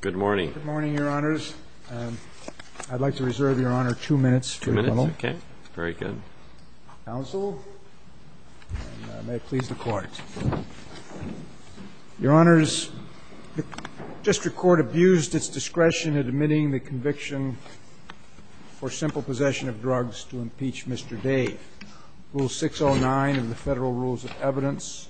Good morning, your honors. I'd like to reserve your honor two minutes. Two minutes? Okay. Very good. Counsel, may it please the court. Your honors, the district court abused its discretion in admitting the conviction for simple possession of drugs to impeach Mr. Dave. Rule 609 of the Federal Rules of Evidence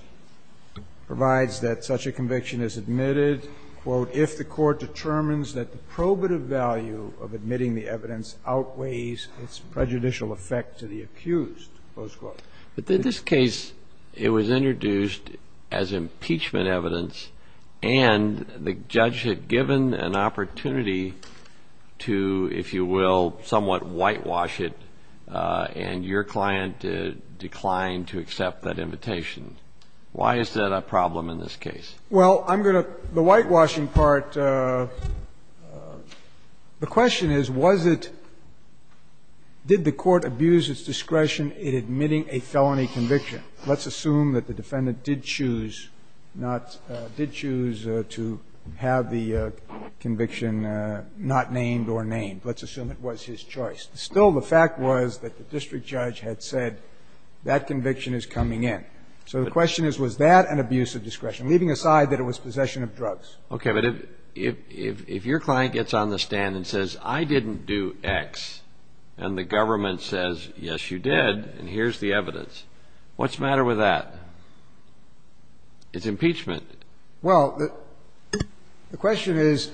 provides that such a conviction is admitted, quote, if the court determines that the probative value of admitting the evidence outweighs its prejudicial effect to the accused, close quote. But in this case, it was introduced as impeachment evidence and the judge had given an opportunity to, if you will, somewhat whitewash it, and your client declined to accept that invitation. Why is that a problem in this case? Well, I'm going to the whitewashing part, the question is, was it, did the court abuse its discretion in admitting a felony conviction? Let's assume that the defendant did choose not, did choose to have the conviction not named or named, let's assume it was his choice. Still, the fact was that the district judge had said that conviction is coming in. So the question is, was that an abuse of discretion, leaving aside that it was possession of drugs? Okay, but if your client gets on the stand and says, I didn't do X, and the government says, yes, you did, and here's the evidence, what's the matter with that? It's impeachment. Well, the question is,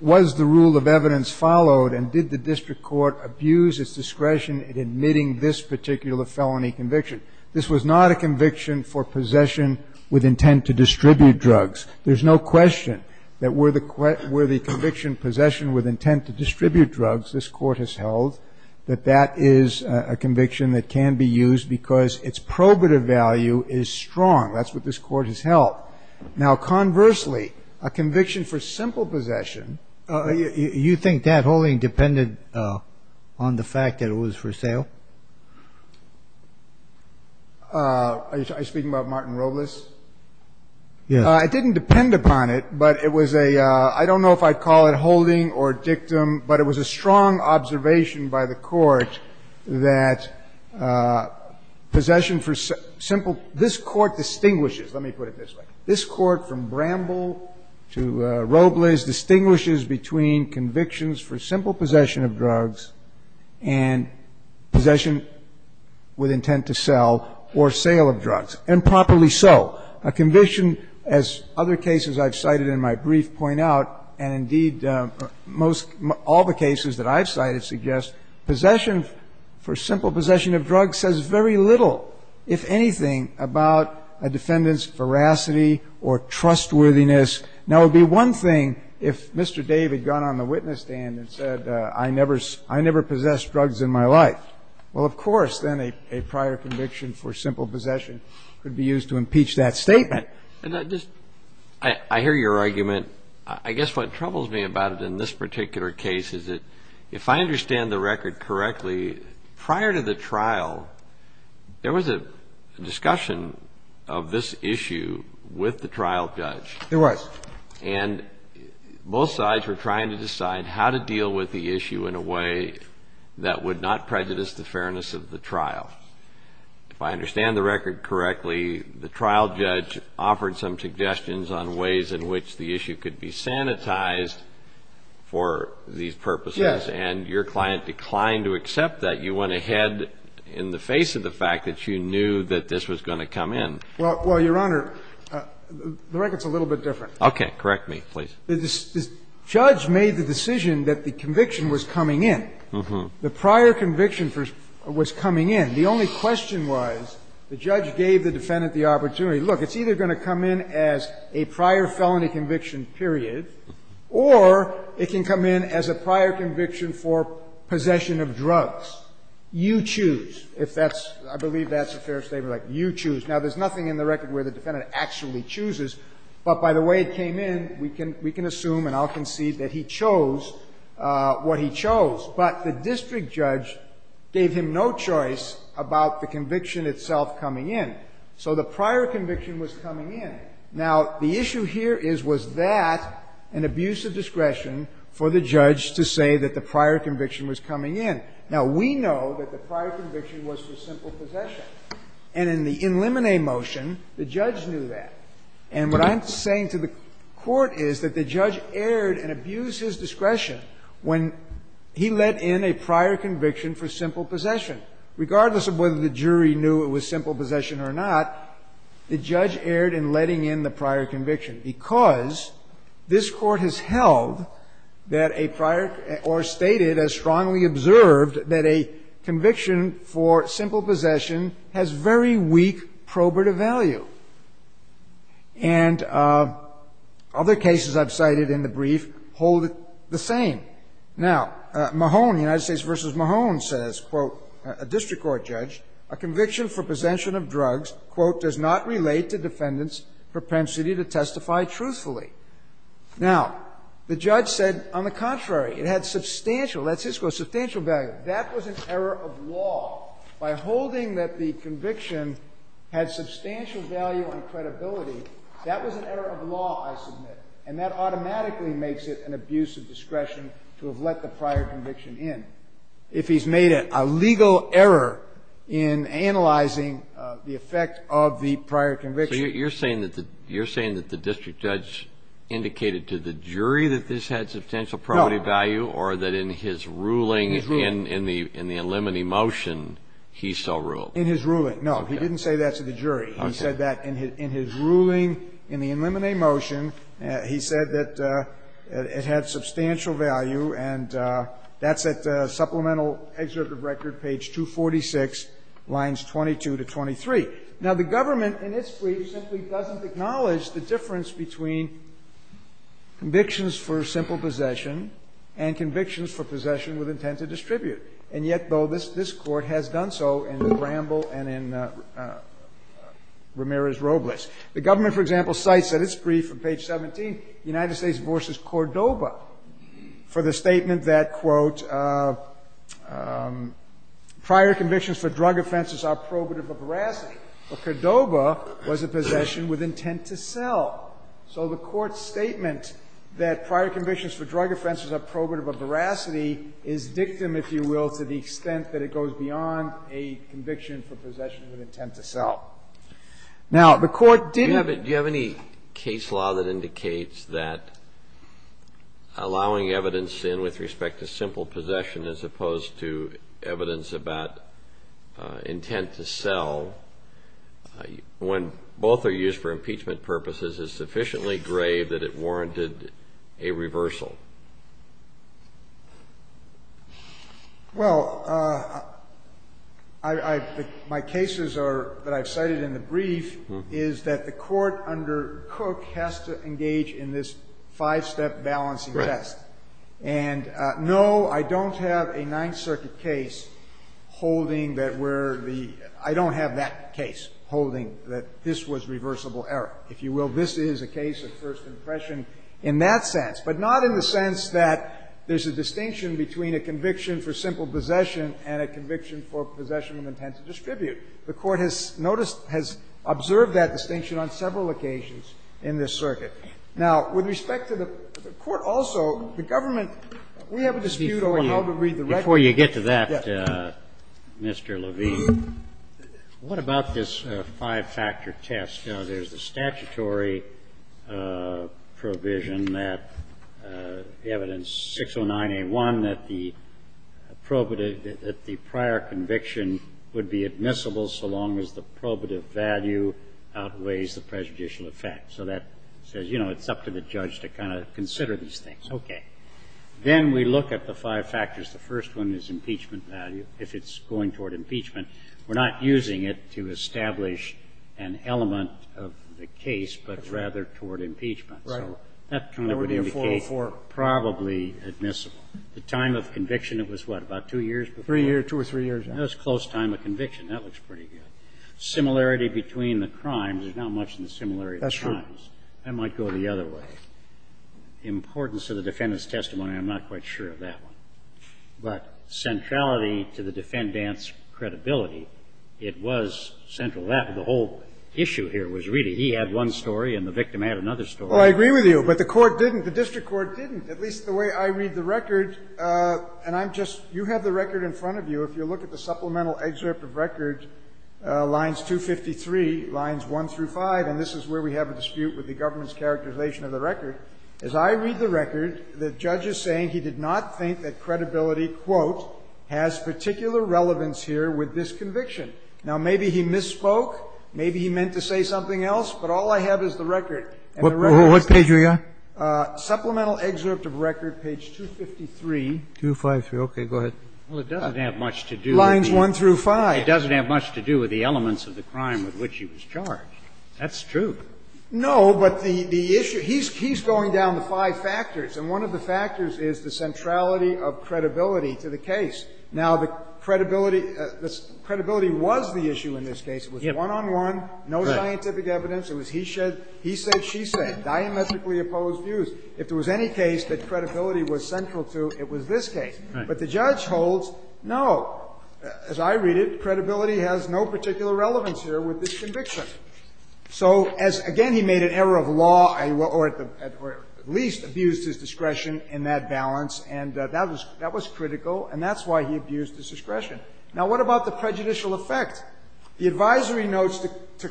was the rule of evidence followed and did the district court abuse its discretion in admitting this particular felony conviction? This was not a conviction for possession with intent to distribute drugs. There's no question that were the conviction possession with intent to distribute drugs, this court has held that that is a conviction that can be used because its probative value is strong. That's what this court has held. Now, conversely, a conviction for simple possession. You think that holding depended on the fact that it was for sale? Are you speaking about Martin Robles? Yes. It didn't depend upon it, but it was a, I don't know if I'd call it holding or dictum, but it was a strong observation by the Court that possession for simple, this Court distinguishes, let me put it this way, this Court from Bramble to Robles distinguishes between convictions for simple possession of drugs and possession with intent to sell or sale of drugs, and properly so. A conviction, as other cases I've cited in my brief point out, and indeed most all the cases that I've cited suggest, possession for simple possession of drugs says very little, if anything, about a defendant's veracity or trustworthiness. Now, it would be one thing if Mr. Dave had gone on the witness stand and said I never possessed drugs in my life. Well, of course, then a prior conviction for simple possession could be used to impeach that statement. I hear your argument. I guess what troubles me about it in this particular case is that if I understand the record correctly, prior to the trial, there was a discussion of this issue with the trial judge. There was. And both sides were trying to decide how to deal with the issue in a way that would not prejudice the fairness of the trial. If I understand the record correctly, the trial judge offered some suggestions on ways in which the issue could be sanitized for these purposes. Yes. And your client declined to accept that. You went ahead in the face of the fact that you knew that this was going to come in. Well, Your Honor, the record's a little bit different. Okay. Correct me, please. The judge made the decision that the conviction was coming in. Mm-hmm. The prior conviction was coming in. The only question was the judge gave the defendant the opportunity. Look, it's either going to come in as a prior felony conviction, period, or it can come in as a prior conviction for possession of drugs. You choose, if that's – I believe that's a fair statement, like you choose. Now, there's nothing in the record where the defendant actually chooses, but by the way it came in, we can assume and I'll concede that he chose what he chose. But the district judge gave him no choice about the conviction itself coming in. So the prior conviction was coming in. Now, the issue here is, was that an abuse of discretion for the judge to say that the prior conviction was coming in? Now, we know that the prior conviction was for simple possession. And in the in limine motion, the judge knew that. And what I'm saying to the Court is that the judge erred and abused his discretion when he let in a prior conviction for simple possession. Regardless of whether the jury knew it was simple possession or not, the judge erred in letting in the prior conviction because this Court has held that a prior or stated as strongly observed that a conviction for simple possession has very weak probative value. And other cases I've cited in the brief hold it the same. Now, Mahone, United States v. Mahone, says, quote, a district court judge, a conviction for possession of drugs, quote, does not relate to defendant's propensity to testify truthfully. Now, the judge said on the contrary. It had substantial, that's his quote, substantial value. That was an error of law. By holding that the conviction had substantial value and credibility, that was an error of law, I submit. And that automatically makes it an abuse of discretion to have let the prior conviction in. If he's made a legal error in analyzing the effect of the prior conviction. So you're saying that the district judge indicated to the jury that this had substantial probative value or that in his ruling in the in limine motion, he still ruled? In his ruling, no. He didn't say that to the jury. He said that in his ruling in the in limine motion, he said that it had substantial value, and that's at Supplemental Excerpt of Record, page 246, lines 22 to 23. Now, the government in its brief simply doesn't acknowledge the difference between convictions for simple possession and convictions for possession with intent to distribute. And yet, though, this Court has done so in Bramble and in Ramirez-Robles. The government, for example, cites in its brief on page 17, United States v. Cordoba for the statement that, quote, prior convictions for drug offenses are probative of veracity. Well, Cordoba was a possession with intent to sell. So the Court's statement that prior convictions for drug offenses are probative of veracity is dictum, if you will, to the extent that it goes beyond a conviction for possession with intent to sell. Now, the Court didn't ---- Do you have any case law that indicates that allowing evidence in with respect to simple possession as opposed to evidence about intent to sell, when both are used for impeachment purposes, is sufficiently grave that it warranted a reversal? Well, I ---- my cases are ---- that I've cited in the brief is that the Court under Cook has to engage in this five-step balancing test. Right. And no, I don't have a Ninth Circuit case holding that we're the ---- I don't have that case holding that this was reversible error. If you will, this is a case of first impression in that sense, but not in the sense that there's a distinction between a conviction for simple possession and a conviction for possession of intent to distribute. The Court has noticed ---- has observed that distinction on several occasions in this circuit. Now, with respect to the Court also, the government, we have a dispute over how to read the record. Before you get to that, Mr. Levine, what about this five-factor test? There's a statutory provision that evidence 609A1 that the probative ---- that the prior conviction would be admissible so long as the probative value outweighs the prejudicial effect. So that says, you know, it's up to the judge to kind of consider these things. Okay. Then we look at the five factors. The first one is impeachment value. If it's going toward impeachment, we're not using it to establish an element of the case, but rather toward impeachment. So that kind of would indicate probably admissible. The time of conviction, it was what, about two years before? Three years, two or three years. That's close time of conviction. Similarity between the crimes, there's not much in the similarity of the crimes. I might go the other way. Importance of the defendant's testimony, I'm not quite sure of that one. But centrality to the defendant's credibility, it was central. The whole issue here was really he had one story and the victim had another story. Well, I agree with you, but the court didn't. The district court didn't, at least the way I read the record. And I'm just ---- you have the record in front of you. If you look at the supplemental excerpt of record, lines 253, lines 1 through 5, and this is where we have a dispute with the government's characterization of the record, as I read the record, the judge is saying he did not think that credibility, quote, has particular relevance here with this conviction. Now, maybe he misspoke. Maybe he meant to say something else. But all I have is the record. And the record is ---- What page are you on? Supplemental excerpt of record, page 253. 253. Okay. Go ahead. Well, it doesn't have much to do with the ---- Lines 1 through 5. It doesn't have much to do with the elements of the crime with which he was charged. That's true. No, but the issue ---- he's going down the five factors. And one of the factors is the centrality of credibility to the case. Now, the credibility was the issue in this case. It was one-on-one, no scientific evidence. It was he said, she said, diametrically opposed views. If there was any case that credibility was central to, it was this case. Right. But the judge holds, no, as I read it, credibility has no particular relevance here with this conviction. So as ---- again, he made an error of law or at least abused his discretion in that balance. And that was critical. And that's why he abused his discretion. Now, what about the prejudicial effect? The advisory notes to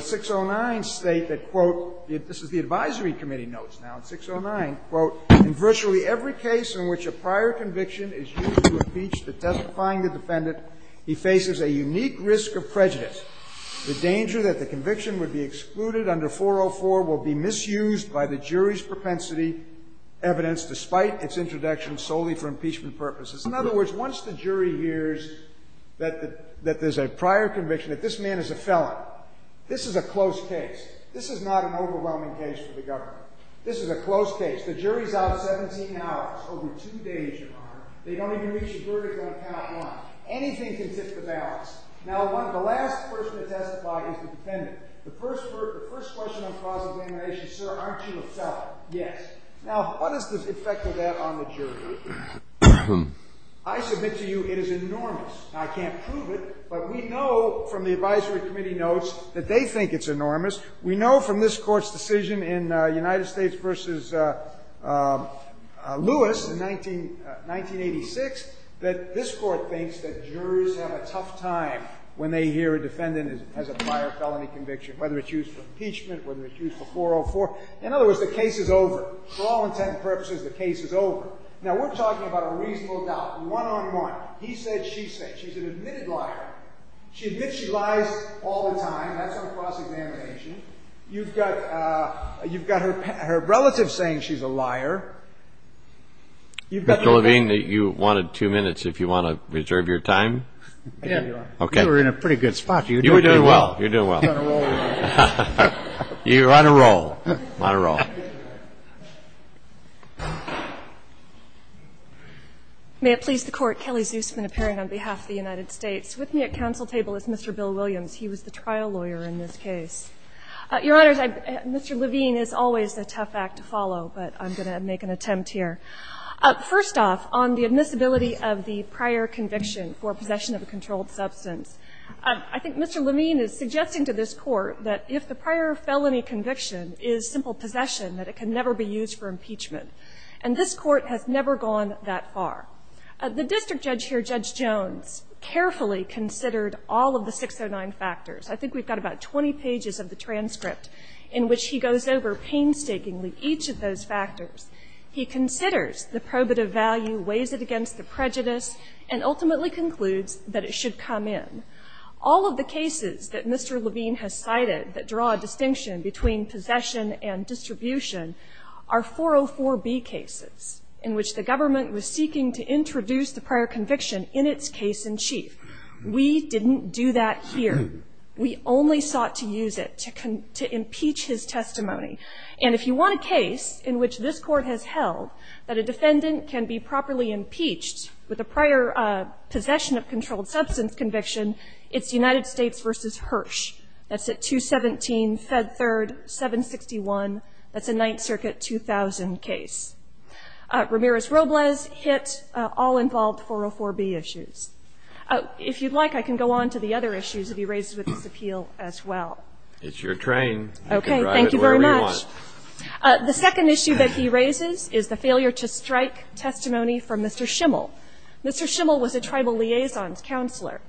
609 state that, quote, this is the advisory committee notes. Now, in 609, quote, in virtually every case in which a prior conviction is used to impeach the testifying defendant, he faces a unique risk of prejudice. The danger that the conviction would be excluded under 404 will be misused by the jury's propensity evidence despite its introduction solely for impeachment purposes. In other words, once the jury hears that there's a prior conviction, that this man is a felon, this is a close case. This is not an overwhelming case for the government. This is a close case. The jury's out 17 hours, over two days, Your Honor. They don't even reach a verdict on count one. Anything can tip the balance. Now, the last person to testify is the defendant. The first question I'm causing examination, sir, aren't you a felon? Yes. Now, what is the effect of that on the jury? I submit to you it is enormous. Now, I can't prove it, but we know from the advisory committee notes that they think it's enormous. We know from this Court's decision in United States v. Lewis in 1986 that this Court thinks that juries have a tough time when they hear a defendant has a prior felony conviction, whether it's used for impeachment, whether it's used for 404. In other words, the case is over. For all intent and purposes, the case is over. Now, we're talking about a reasonable doubt, one-on-one. He said, she said. She's an admitted liar. She admits she lies all the time. That's on cross-examination. You've got her relative saying she's a liar. You've got the whole thing. Mr. Levine, you wanted two minutes if you want to reserve your time. Yeah. Okay. You were in a pretty good spot. You were doing pretty well. You were doing well. You're on a roll. You're on a roll. On a roll. May it please the Court. Kelly Zusman, appearing on behalf of the United States. With me at counsel table is Mr. Bill Williams. He was the trial lawyer in this case. Your Honors, Mr. Levine is always a tough act to follow, but I'm going to make an attempt here. First off, on the admissibility of the prior conviction for possession of a controlled substance, I think Mr. Levine is suggesting to this Court that if the prior felony conviction is simple possession, that it can never be used for impeachment. And this Court has never gone that far. The district judge here, Judge Jones, carefully considered all of the 609 factors. I think we've got about 20 pages of the transcript in which he goes over painstakingly each of those factors. He considers the probative value, weighs it against the prejudice, and ultimately concludes that it should come in. All of the cases that Mr. Levine has cited that draw a distinction between possession and distribution are 404B cases in which the government was seeking to introduce the prior conviction in its case-in-chief. We didn't do that here. We only sought to use it to impeach his testimony. And if you want a case in which this Court has held that a defendant can be properly impeached with a prior possession of controlled substance conviction, it's United States. It's the 2017 Fed Third 761. That's a Ninth Circuit 2000 case. Ramirez-Robles hit all involved 404B issues. If you'd like, I can go on to the other issues that he raised with this appeal as well. It's your train. Okay. Thank you very much. You can drive it wherever you want. The second issue that he raises is the failure to strike testimony from Mr. Schimmel. Mr. Schimmel was a tribal liaison's counselor.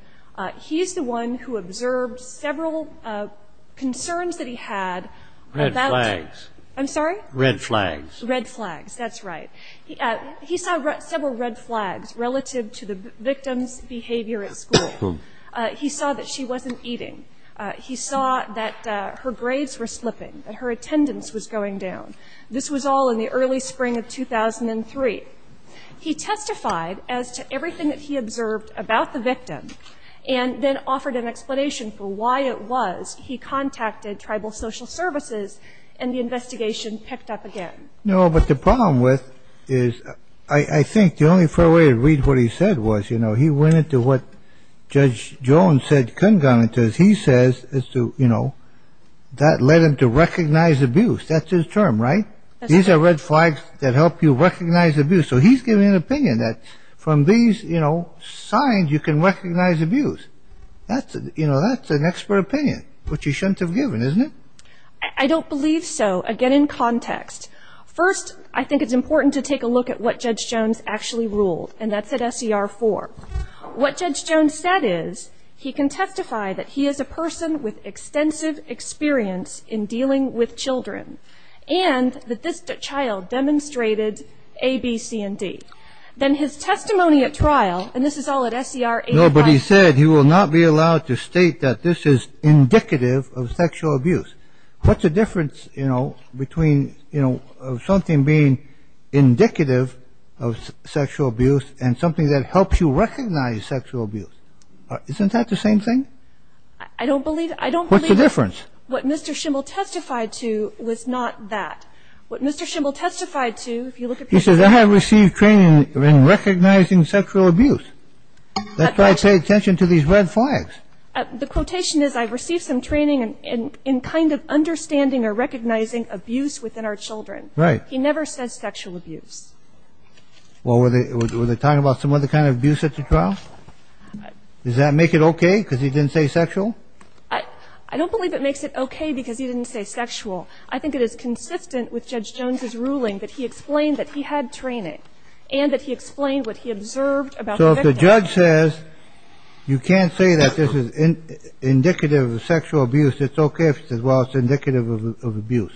He's the one who observed several concerns that he had about the ---- Red flags. I'm sorry? Red flags. Red flags. That's right. He saw several red flags relative to the victim's behavior at school. He saw that she wasn't eating. He saw that her grades were slipping, that her attendance was going down. This was all in the early spring of 2003. He testified as to everything that he observed about the victim and then offered an explanation for why it was he contacted tribal social services and the investigation picked up again. No, but the problem with it is I think the only fair way to read what he said was, you know, he went into what Judge Jones said congruently. He says, you know, that led him to recognize abuse. That's his term, right? These are red flags that help you recognize abuse. So he's giving an opinion that from these, you know, signs you can recognize abuse. That's an expert opinion, which he shouldn't have given, isn't it? I don't believe so. Again, in context. First, I think it's important to take a look at what Judge Jones actually ruled, and that's at SCR 4. What Judge Jones said is he can testify that he is a person with extensive experience in dealing with children and that this child demonstrated A, B, C, and D. Then his testimony at trial, and this is all at SCR 8.5. No, but he said he will not be allowed to state that this is indicative of sexual abuse. What's the difference, you know, between, you know, of something being indicative of sexual abuse and something that helps you recognize sexual abuse? Isn't that the same thing? I don't believe it. What's the difference? What Mr. Schimel testified to was not that. What Mr. Schimel testified to, if you look at the... He says I have received training in recognizing sexual abuse. That's why I pay attention to these red flags. The quotation is I've received some training in kind of understanding or recognizing abuse within our children. Right. He never says sexual abuse. Well, were they talking about some other kind of abuse at the trial? Does that make it okay because he didn't say sexual? I don't believe it makes it okay because he didn't say sexual. I think it is consistent with Judge Jones's ruling that he explained that he had training and that he explained what he observed about the victim. So if the judge says you can't say that this is indicative of sexual abuse, it's okay if he says, well, it's indicative of abuse.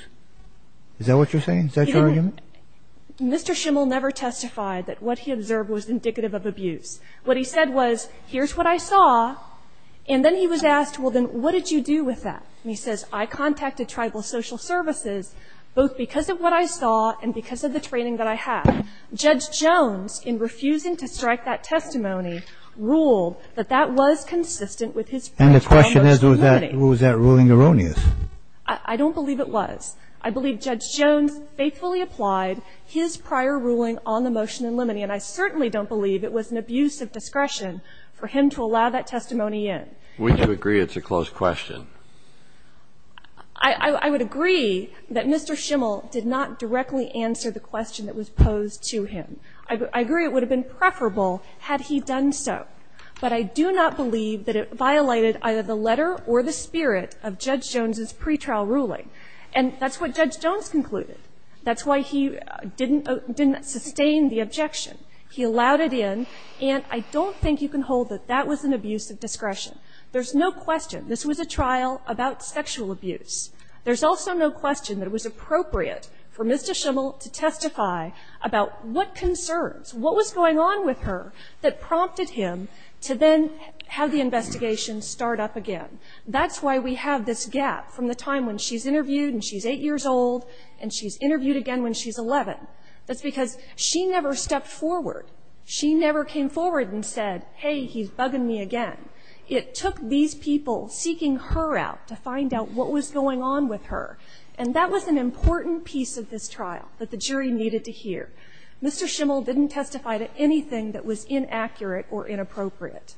Is that what you're saying? Is that your argument? He didn't. Mr. Schimel never testified that what he observed was indicative of abuse. What he said was here's what I saw. And then he was asked, well, then what did you do with that? And he says I contacted tribal social services both because of what I saw and because of the training that I had. Judge Jones, in refusing to strike that testimony, ruled that that was consistent with his prior motion. And the question is was that ruling erroneous? I don't believe it was. I believe Judge Jones faithfully applied his prior ruling on the motion in limine. And I certainly don't believe it was an abuse of discretion for him to allow that testimony in. We do agree it's a closed question. I would agree that Mr. Schimel did not directly answer the question that was posed to him. I agree it would have been preferable had he done so. But I do not believe that it violated either the letter or the spirit of Judge Jones's pretrial ruling. And that's what Judge Jones concluded. That's why he didn't sustain the objection. He allowed it in. And I don't think you can hold that that was an abuse of discretion. There's no question this was a trial about sexual abuse. There's also no question that it was appropriate for Mr. Schimel to testify about what concerns, what was going on with her that prompted him to then have the investigation start up again. That's why we have this gap from the time when she's interviewed and she's 8 years old and she's interviewed again when she's 11. That's because she never stepped forward. She never came forward and said, hey, he's bugging me again. It took these people seeking her out to find out what was going on with her. And that was an important piece of this trial that the jury needed to hear. Mr. Schimel didn't testify to anything that was inaccurate or inappropriate.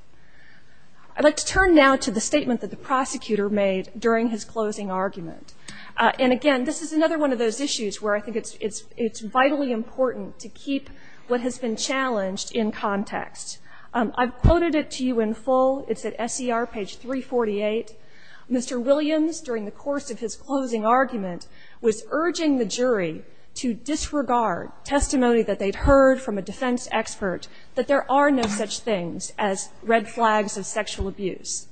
I'd like to turn now to the statement that the prosecutor made during his closing argument. And, again, this is another one of those issues where I think it's vitally important to keep what has been challenged in context. I've quoted it to you in full. It's at SCR page 348. Mr. Williams, during the course of his closing argument, was urging the jury to disregard testimony that they'd heard from a defense expert that there are no such things as red flags of sexual abuse.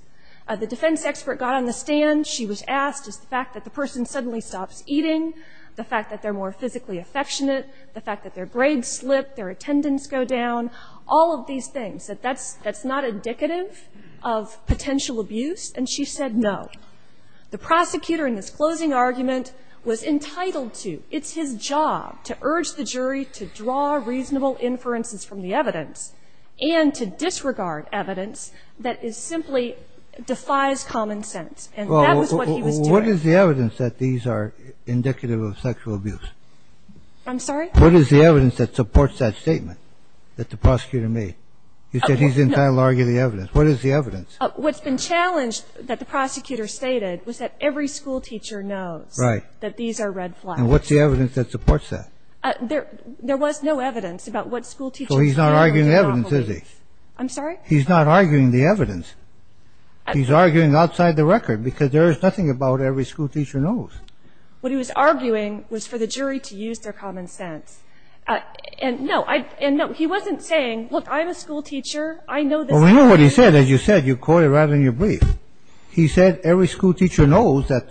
The defense expert got on the stand. She was asked, is the fact that the person suddenly stops eating, the fact that they're more physically affectionate, the fact that their grades slip, their attendance go down, all of these things, that that's not indicative of potential abuse? And she said no. The prosecutor in his closing argument was entitled to, it's his job, to urge the jury to draw reasonable inferences from the evidence and to disregard evidence that is simply defies common sense. And that was what he was doing. Well, what is the evidence that these are indicative of sexual abuse? I'm sorry? What is the evidence that supports that statement that the prosecutor made? You said he's entitled to argue the evidence. What is the evidence? What's been challenged that the prosecutor stated was that every school teacher knows that these are red flags. And what's the evidence that supports that? There was no evidence about what school teachers know. I'm sorry? He's not arguing the evidence. He's arguing outside the record because there is nothing about every school teacher knows. What he was arguing was for the jury to use their common sense. And no, he wasn't saying, look, I'm a school teacher, I know this. Well, we know what he said. As you said, you caught it right in your brief. He said every school teacher knows that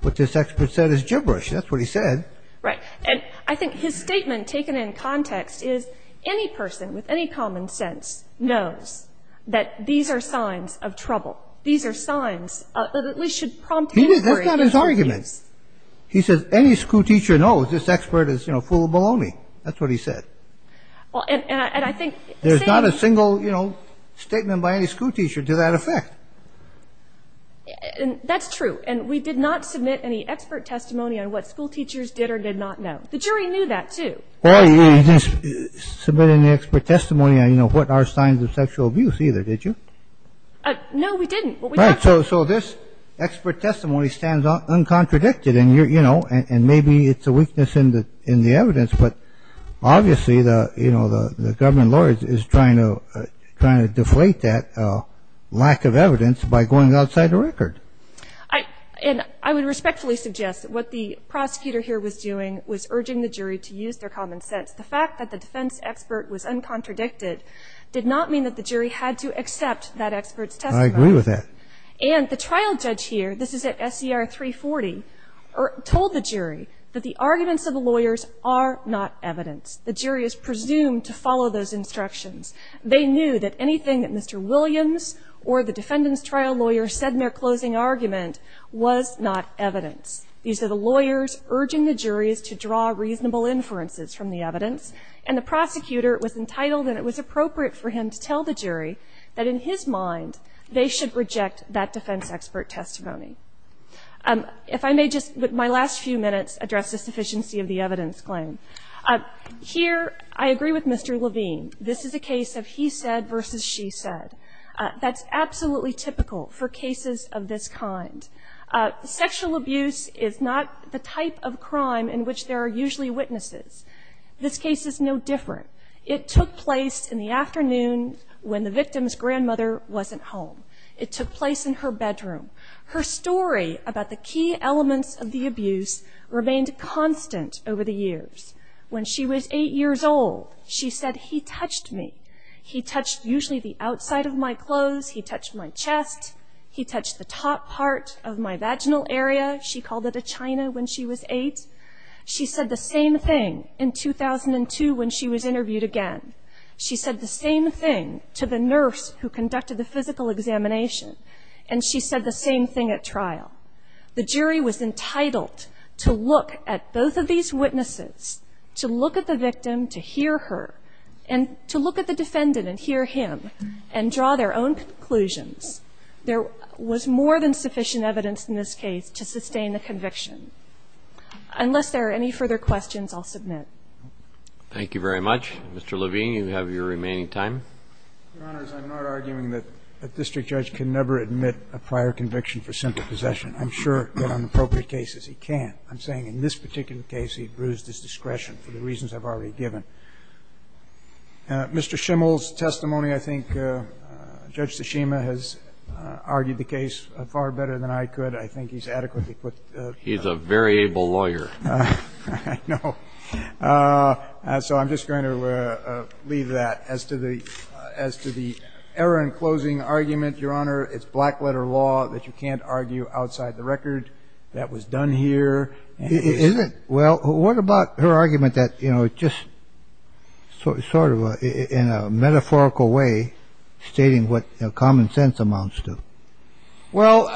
what this expert said is gibberish. That's what he said. Right. And I think his statement taken in context is any person with any common sense knows that these are signs of trouble. These are signs that at least should prompt inquiry. That's not his argument. He says any school teacher knows this expert is, you know, full of baloney. That's what he said. Well, and I think the same. There's not a single, you know, statement by any school teacher to that effect. That's true. And we did not submit any expert testimony on what school teachers did or did not know. The jury knew that, too. Well, you didn't submit any expert testimony on, you know, what are signs of sexual abuse either, did you? No, we didn't. Right. So this expert testimony stands uncontradicted and, you know, and maybe it's a weakness in the evidence. But obviously, you know, the government lawyer is trying to deflate that lack of evidence by going outside the record. And I would respectfully suggest what the prosecutor here was doing was urging the jury to accept that expert's testimony. I agree with that. And the trial judge here, this is at SCR 340, told the jury that the arguments of the lawyers are not evidence. The jury is presumed to follow those instructions. They knew that anything that Mr. Williams or the defendant's trial lawyer said in their closing argument was not evidence. And the prosecutor was entitled and it was appropriate for him to tell the jury that in his mind they should reject that defense expert testimony. If I may just, with my last few minutes, address the sufficiency of the evidence claim. Here, I agree with Mr. Levine. This is a case of he said versus she said. That's absolutely typical for cases of this kind. Sexual abuse is not the type of crime in which there are usually witnesses. This case is no different. It took place in the afternoon when the victim's grandmother wasn't home. It took place in her bedroom. Her story about the key elements of the abuse remained constant over the years. When she was eight years old, she said, he touched me. He touched usually the outside of my clothes. He touched my chest. He touched the top part of my vaginal area. She called it a china when she was eight. She said the same thing in 2002 when she was interviewed again. She said the same thing to the nurse who conducted the physical examination. And she said the same thing at trial. The jury was entitled to look at both of these witnesses, to look at the victim, to hear her, and to look at the defendant and hear him and draw their own conclusions. There was more than sufficient evidence in this case to sustain the conviction. Unless there are any further questions, I'll submit. Thank you very much. Mr. Levine, you have your remaining time. Your Honors, I'm not arguing that a district judge can never admit a prior conviction for simple possession. I'm sure that on appropriate cases he can. I'm saying in this particular case, he bruised his discretion for the reasons I've already given. Mr. Schimel's testimony, I think Judge Tsushima has argued the case far better than I could. I think he's adequately put. He's a very able lawyer. I know. So I'm just going to leave that. As to the error in closing argument, Your Honor, it's black letter law that you can't argue outside the record. That was done here. Is it? Well, what about her argument that, you know, just sort of in a metaphorical way, stating what common sense amounts to? Well,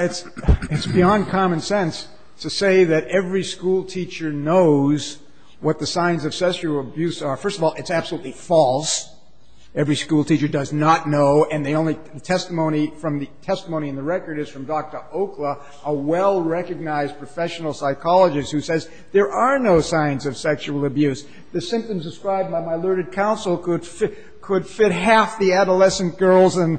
it's beyond common sense to say that every school teacher knows what the signs of sexual abuse are. First of all, it's absolutely false. Every school teacher does not know. And the testimony in the record is from Dr. Okla, a well-recognized professional psychologist who says there are no signs of sexual abuse. The symptoms described by my learned counsel could fit half the adolescent girls and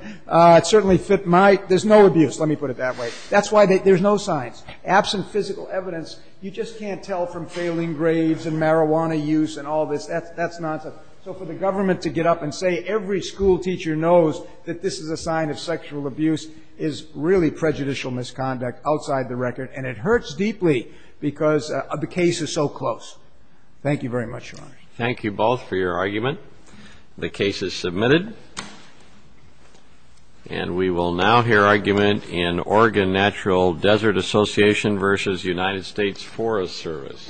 certainly fit my — there's no abuse, let me put it that way. That's why there's no signs. Absent physical evidence, you just can't tell from failing grades and marijuana use and all this. That's nonsense. So for the government to get up and say every school teacher knows that this is a sign of sexual abuse is really prejudicial misconduct outside the record, and it hurts deeply because the case is so close. Thank you very much, Your Honor. Thank you both for your argument. The case is submitted. And we will now hear argument in Oregon Natural Desert Association v. United States Forest Service. Thank you.